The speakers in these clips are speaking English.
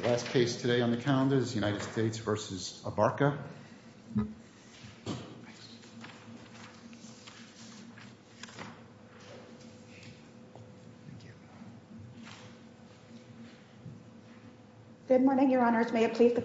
Good morning your honors, may it please the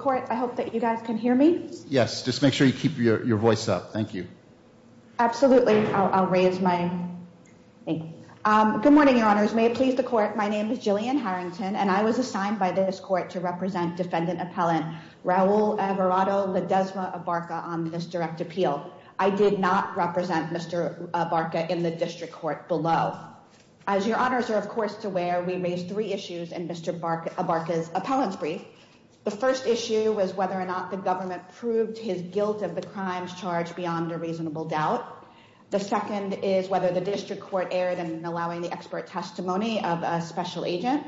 court, my name is Jillian Harrington and I was assigned by the District Court to represent defendant appellant Raul Everardo Ledesma Abarca on this direct appeal. I did not represent Mr. Abarca in the District Court below. As your honors are of course aware, we raised three issues in Mr. Abarca's appellant's brief. The first issue was whether or not the government proved his guilt of the crimes charged beyond a reasonable doubt. The second is whether the District Court erred in allowing the expert testimony of a special agent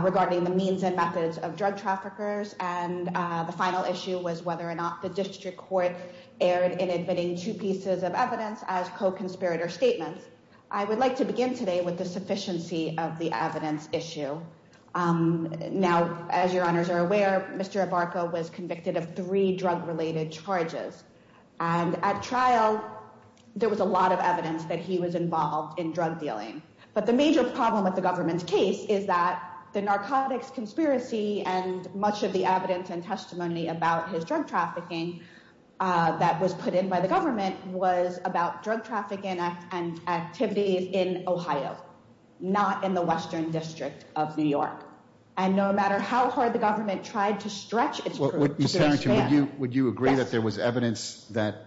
regarding the means and methods of drug traffickers. And the final issue was whether or not the District Court erred in admitting two pieces of evidence as co-conspirator statements. I would like to begin today with the sufficiency of the evidence issue. Now as your honors are aware, Mr. Abarca was convicted of three drug related charges. And at trial, there was a lot of evidence that he was involved in drug dealing. But the major problem with the government's case is that the narcotics conspiracy and much of the evidence and testimony about his drug trafficking that was put in by the government was about drug trafficking and activities in Ohio, not in the Western District of New York. And no matter how hard the government tried to stretch its... Would you agree that there was evidence that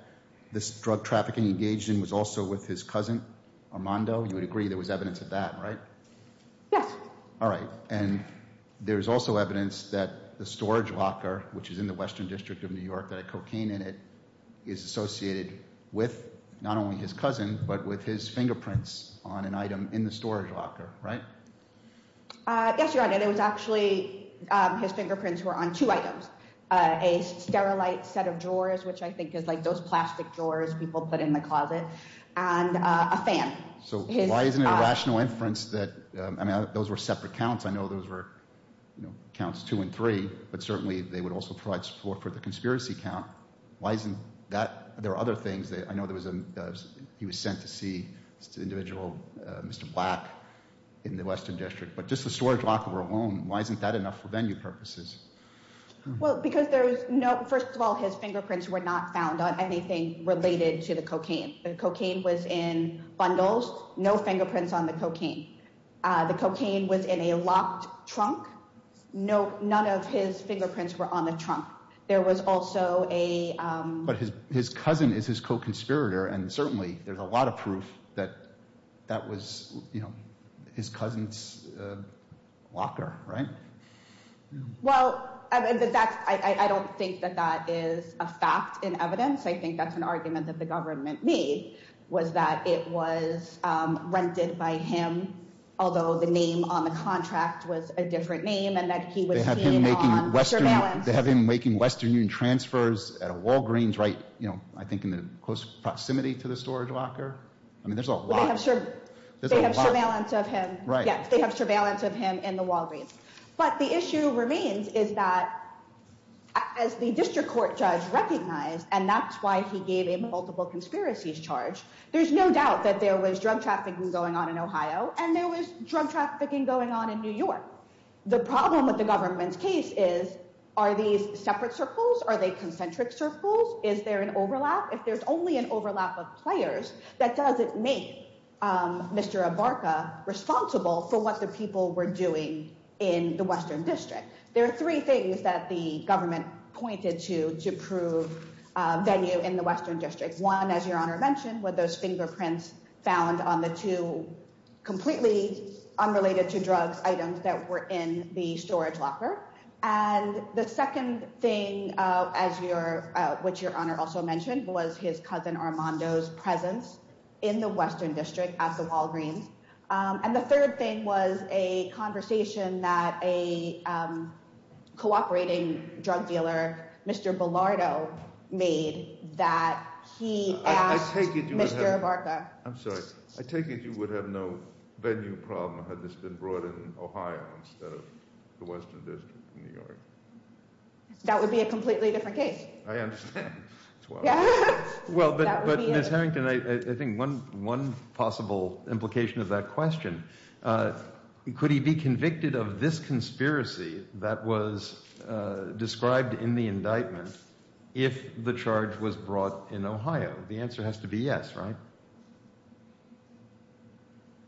this drug trafficking engaged in was also with his cousin Armando? You would agree there was evidence of that, right? Yes. All right. And there's also evidence that the storage locker, which is in the Western District of New York, that had cocaine in it, is associated with not only his cousin, but with his fingerprints on an item in the storage locker, right? Yes, your honor. There was actually his fingerprints were on two items. A sterilized set of drawers, which I think is like those plastic drawers people put in the closet, and a fan. So why isn't it a rational inference that... I mean, those were separate counts. I know those were counts two and three, but certainly they would also provide support for the conspiracy count. Why isn't that... There are other things that... I know he was sent to see this individual, Mr. Black, in the Western District. But just the storage locker alone, why isn't that enough for venue purposes? Well, because there's no... First of all, his fingerprints were not found on anything related to the cocaine. The cocaine was in bundles, no fingerprints on the cocaine. The cocaine was in a locked trunk. No, none of his fingerprints were on the trunk. There was also a... But his cousin is his co-conspirator, and certainly there's a lot of proof that that was, you know, his cousin's locker, right? Well, I don't think that that is a fact in evidence. I think that's an argument that the government made, was that it was rented by him, although the name on the contract was a different name, and that he was seen on surveillance. They have him making Western Union transfers at a Walgreens, right, you know, I think in the close proximity to the storage locker. I mean, there's a lot... They have surveillance of him in the Walgreens. But the issue remains is that as the district court judge recognized, and that's why he gave him a multiple conspiracies charge, there's no doubt that there was drug trafficking going on in Ohio, and there was drug trafficking going on in New York. The problem with the government's case is, are these separate circles? Are they concentric circles? Is there an overlap? If there's only an overlap of players, that doesn't make Mr. Abarca responsible for what the people were doing in the Western District. There are three things that the government pointed to to prove venue in the Western District. One, as Your Honor mentioned, were those fingerprints found on the two completely unrelated to drugs items that were in the storage locker. And the second thing, which Your Honor also mentioned, was his cousin Armando's presence in the Western District at the Walgreens. And the third thing was a conversation that a cooperating drug dealer, Mr. Bilardo, made that he asked Mr. Abarca... That would be a completely different case. I understand. Well, but Ms. Harrington, I think one possible implication of that question, could he be convicted of this conspiracy that was described in the indictment if the charge was brought in Ohio? The answer has to be yes, right?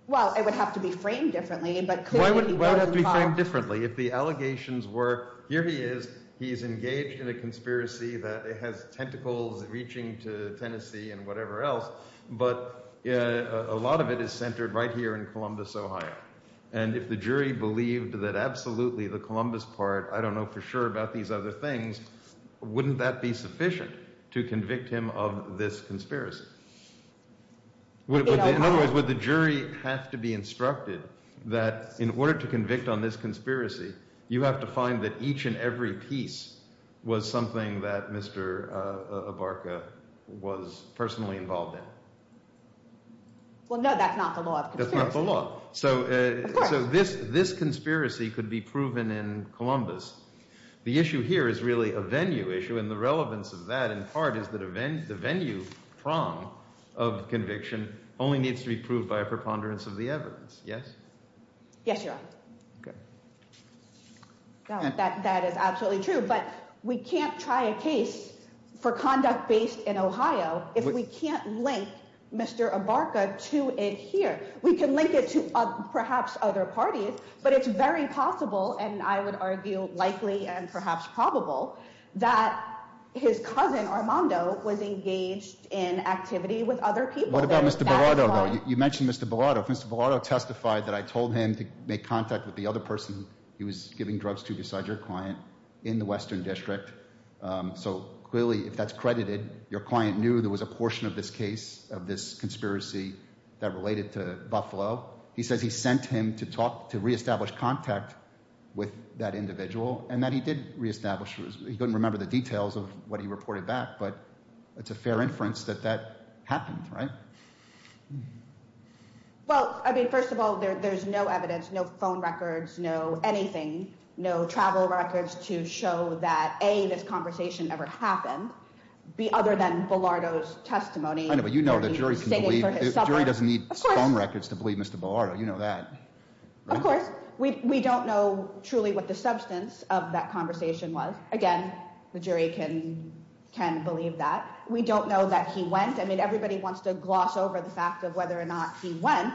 Well, it would have to be framed differently. Why would it have to be framed differently if the allegations were, here he is, he's engaged in a conspiracy that has tentacles reaching to Tennessee and whatever else, but a lot of it is centered right here in Columbus, Ohio. And if the jury believed that absolutely the Columbus part, I don't know for sure about these other things, wouldn't that be sufficient to convict him of this conspiracy? In other words, would the jury have to be instructed that in order to convict on this conspiracy, you have to find that each and every piece was something that Mr. Abarca was personally involved in? Well, no, that's not the law of conspiracy. That's not the law. Of course. So this conspiracy could be proven in Columbus. The issue here is really a venue issue and the relevance of that in part is that the venue prong of conviction only needs to be proved by a preponderance of the evidence. Yes? Yes, Your Honor. That is absolutely true, but we can't try a case for conduct based in Ohio if we can't link Mr. Abarca to it here. We can link it to perhaps other parties, but it's very possible and I would argue likely and perhaps probable that his cousin Armando was engaged in activity with other people. You mentioned Mr. Bellotto. Mr. Bellotto testified that I told him to make contact with the other person he was giving drugs to beside your client in the Western District. So clearly if that's credited, your client knew there was a portion of this case of this conspiracy that related to Buffalo. He says he sent him to talk to reestablish contact with that individual and that he did reestablish. He couldn't remember the details of what he reported back, but it's a fair inference that that happened, right? Well, I mean, first of all, there's no evidence, no phone records, no anything, no travel records to show that A, this conversation ever happened. B, other than Bellotto's testimony. I know, but you know the jury doesn't need phone records to believe Mr. Bellotto. You know that. Of course, we don't know truly what the substance of that conversation was. Again, the jury can can believe that we don't know that he went. I mean, everybody wants to gloss over the fact of whether or not he went.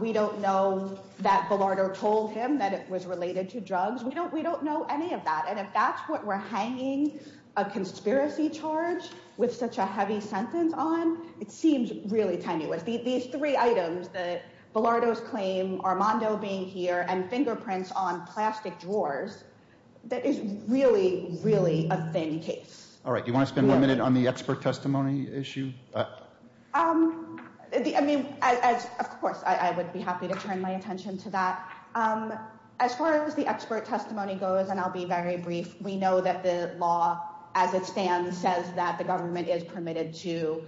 We don't know that Bellotto told him that it was related to drugs. We don't we don't know any of that. And if that's what we're hanging a conspiracy charge with such a heavy sentence on, it seems really tenuous. These three items that Bellotto's claim, Armando being here and fingerprints on plastic drawers, that is really, really a thin case. All right. You want to spend a minute on the expert testimony issue? I mean, of course, I would be happy to turn my attention to that. As far as the expert testimony goes, and I'll be very brief. We know that the law, as it stands, says that the government is permitted to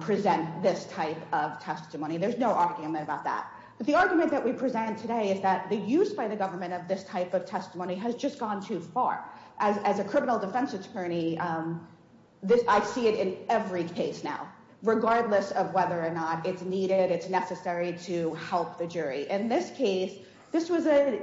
present this type of testimony. There's no argument about that. But the argument that we present today is that the use by the government of this type of testimony has just gone too far. As a criminal defense attorney, I see it in every case now, regardless of whether or not it's needed, it's necessary to help the jury. In this case, this was a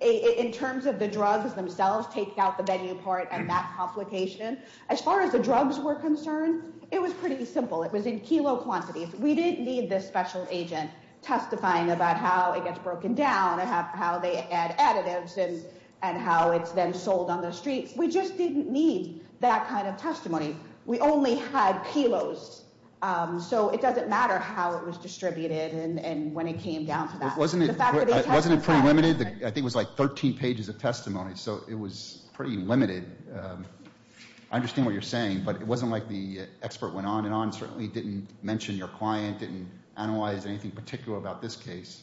in terms of the drugs themselves, take out the venue part and that complication. As far as the drugs were concerned, it was pretty simple. It was in kilo quantities. We didn't need this special agent testifying about how it gets broken down and how they add additives and how it's then sold on the streets. We just didn't need that kind of testimony. We only had kilos. So it doesn't matter how it was distributed and when it came down to that. Wasn't it pretty limited? I think it was like 13 pages of testimony, so it was pretty limited. I understand what you're saying, but it wasn't like the expert went on and on, certainly didn't mention your client, didn't analyze anything particular about this case.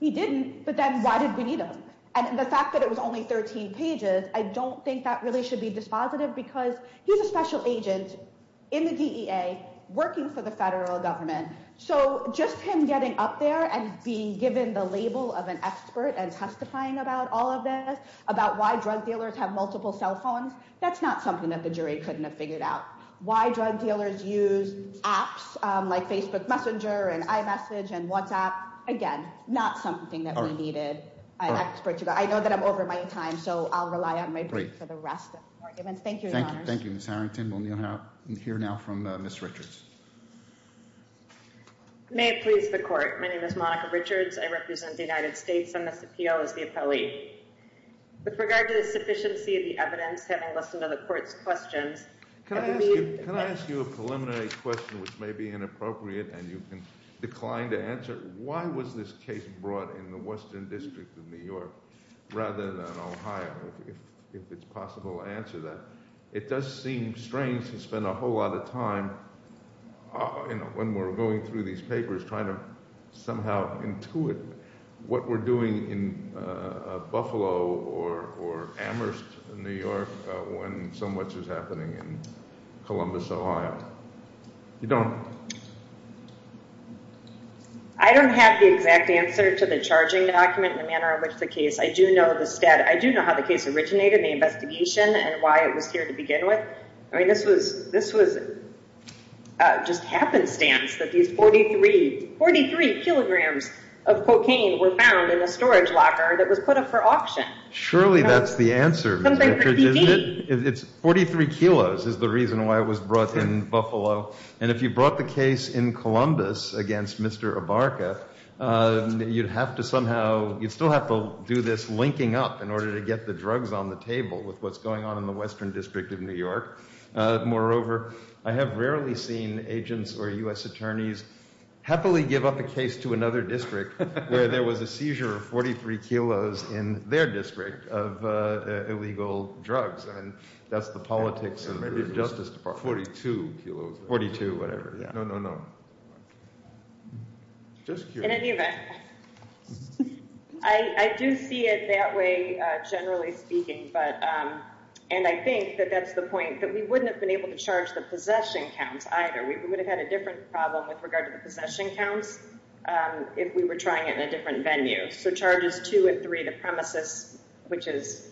He didn't. But then why did we need him? And the fact that it was only 13 pages, I don't think that really should be dispositive because he's a special agent. In the DEA, working for the federal government. So just him getting up there and being given the label of an expert and testifying about all of this, about why drug dealers have multiple cell phones. That's not something that the jury couldn't have figured out. Why drug dealers use apps like Facebook Messenger and iMessage and WhatsApp? Again, not something that we needed an expert to go. I know that I'm over my time, so I'll rely on my brief for the rest. Thank you. Thank you, Ms. Harrington. We'll hear now from Ms. Richards. May it please the court. My name is Monica Richards. I represent the United States on this appeal as the appellee. With regard to the sufficiency of the evidence, having listened to the court's questions. Can I ask you a preliminary question, which may be inappropriate and you can decline to answer? Why was this case brought in the Western District of New York rather than Ohio, if it's possible to answer that? It does seem strange to spend a whole lot of time when we're going through these papers trying to somehow intuit what we're doing in Buffalo or Amherst, New York, when so much is happening in Columbus, Ohio. You don't? I don't have the exact answer to the charging document in the manner in which the case. I do know how the case originated, the investigation and why it was here to begin with. I mean, this was just happenstance that these 43 kilograms of cocaine were found in a storage locker that was put up for auction. Surely that's the answer. It's 43 kilos is the reason why it was brought in Buffalo. And if you brought the case in Columbus against Mr. Abarca, you'd have to somehow you'd still have to do this linking up in order to get the drugs on the table with what's going on in the Western District of New York. Moreover, I have rarely seen agents or U.S. attorneys happily give up a case to another district where there was a seizure of 43 kilos in their district of illegal drugs. And that's the politics of the Justice Department. 42 kilos. 42, whatever. No, no, no. In any event, I do see it that way, generally speaking. But and I think that that's the point that we wouldn't have been able to charge the possession counts either. We would have had a different problem with regard to the possession counts if we were trying it in a different venue. So charges two and three, the premises, which is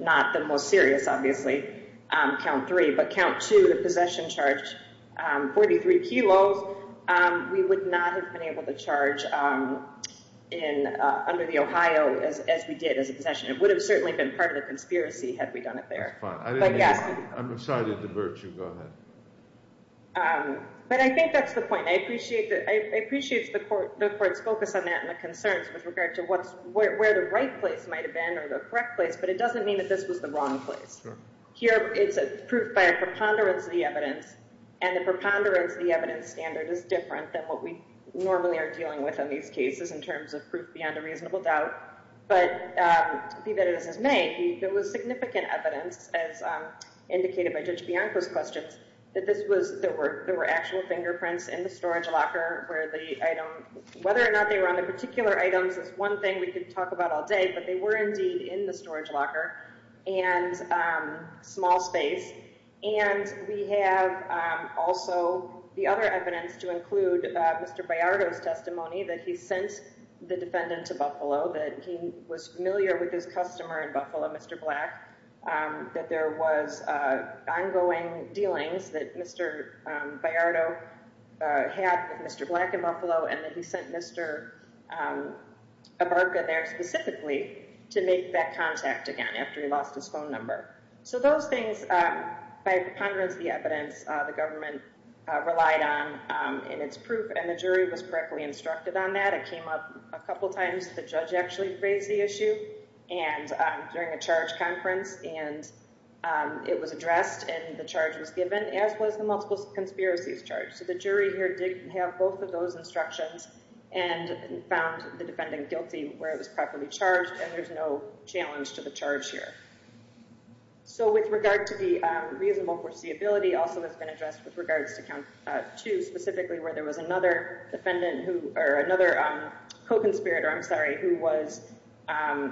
not the most serious, obviously, count three, but count to the possession charge. Forty three kilos. We would not have been able to charge in under the Ohio as we did as a possession. It would have certainly been part of the conspiracy had we done it there. But I'm sorry to divert you. But I think that's the point. I appreciate that. I appreciate the court. The court's focus on that and the concerns with regard to what's where the right place might have been or the correct place. But it doesn't mean that this was the wrong place here. It's a proof by a preponderance of the evidence and the preponderance. The evidence standard is different than what we normally are dealing with in these cases in terms of proof beyond a reasonable doubt. But the evidence is made. There was significant evidence, as indicated by Judge Bianco's questions, that this was there were there were actual fingerprints in the storage locker where the item, whether or not they were on the particular items is one thing we could talk about all day. But they were indeed in the storage locker and small space. And we have also the other evidence to include Mr. Bayardo's testimony that he sent the defendant to Buffalo, that he was familiar with his customer in Buffalo, Mr. Black, that there was ongoing dealings that Mr. Bayardo had with Mr. Black and Buffalo, and that he sent Mr. Bayardo there specifically to make that contact again after he lost his phone number. So those things by preponderance, the evidence the government relied on in its proof and the jury was correctly instructed on that. It came up a couple of times. The judge actually raised the issue. And during a charge conference and it was addressed and the charge was given as was the multiple conspiracies charge. So the jury here did have both of those instructions and found the defendant guilty where it was properly charged. And there's no challenge to the charge here. So with regard to the reasonable foreseeability also has been addressed with regards to count to specifically where there was another defendant who or another co-conspirator. I'm sorry, who was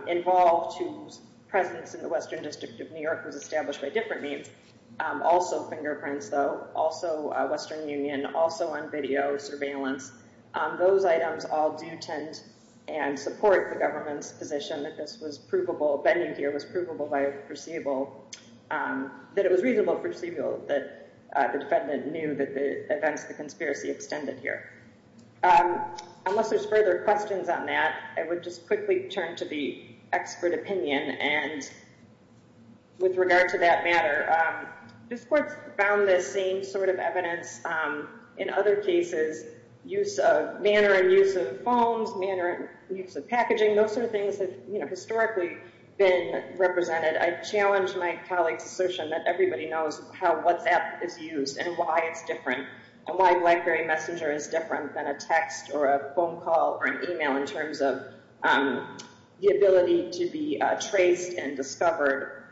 involved, whose presence in the Western District of New York was established by different means. Also fingerprints, though, also Western Union, also on video surveillance. Those items all do tend and support the government's position that this was provable. Bending here was provable by a foreseeable that it was reasonable foreseeable that the defendant knew that the events, the conspiracy extended here. Unless there's further questions on that, I would just quickly turn to the expert opinion. And with regard to that matter, this court found the same sort of evidence in other cases, use of manner and use of phones, manner and use of packaging. Those sort of things have historically been represented. I challenge my colleague's assertion that everybody knows how WhatsApp is used and why it's different. And why Blackberry Messenger is different than a text or a phone call or an email in terms of the ability to be traced and discovered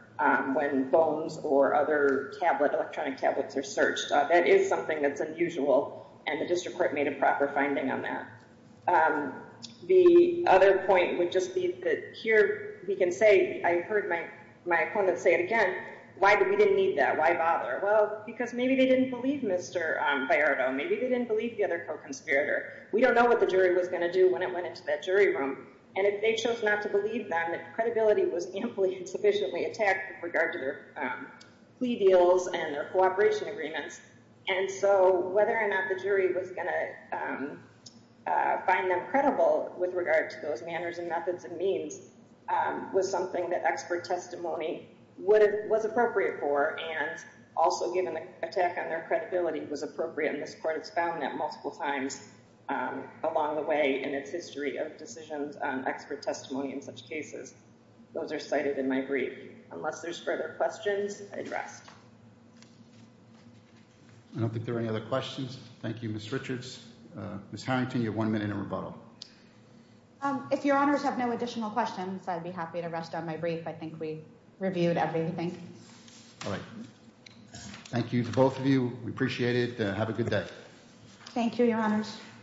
when phones or other electronic tablets are searched. That is something that's unusual, and the district court made a proper finding on that. The other point would just be that here we can say, I heard my opponent say it again, why did we need that? Why bother? Well, because maybe they didn't believe Mr. Bayardo. Maybe they didn't believe the other co-conspirator. We don't know what the jury was going to do when it went into that jury room. And if they chose not to believe them, credibility was amply and sufficiently attacked with regard to their plea deals and their cooperation agreements. And so whether or not the jury was going to find them credible with regard to those manners and methods and means was something that expert testimony was appropriate for. And also given the attack on their credibility was appropriate in this court, it's found that multiple times along the way in its history of decisions on expert testimony in such cases. Those are cited in my brief. Unless there's further questions, I'd rest. I don't think there are any other questions. Thank you, Ms. Richards. Ms. Harrington, you have one minute in rebuttal. If your Honours have no additional questions, I'd be happy to rest on my brief. I think we reviewed everything. All right. Thank you to both of you. We appreciate it. Have a good day. Thank you, your Honours.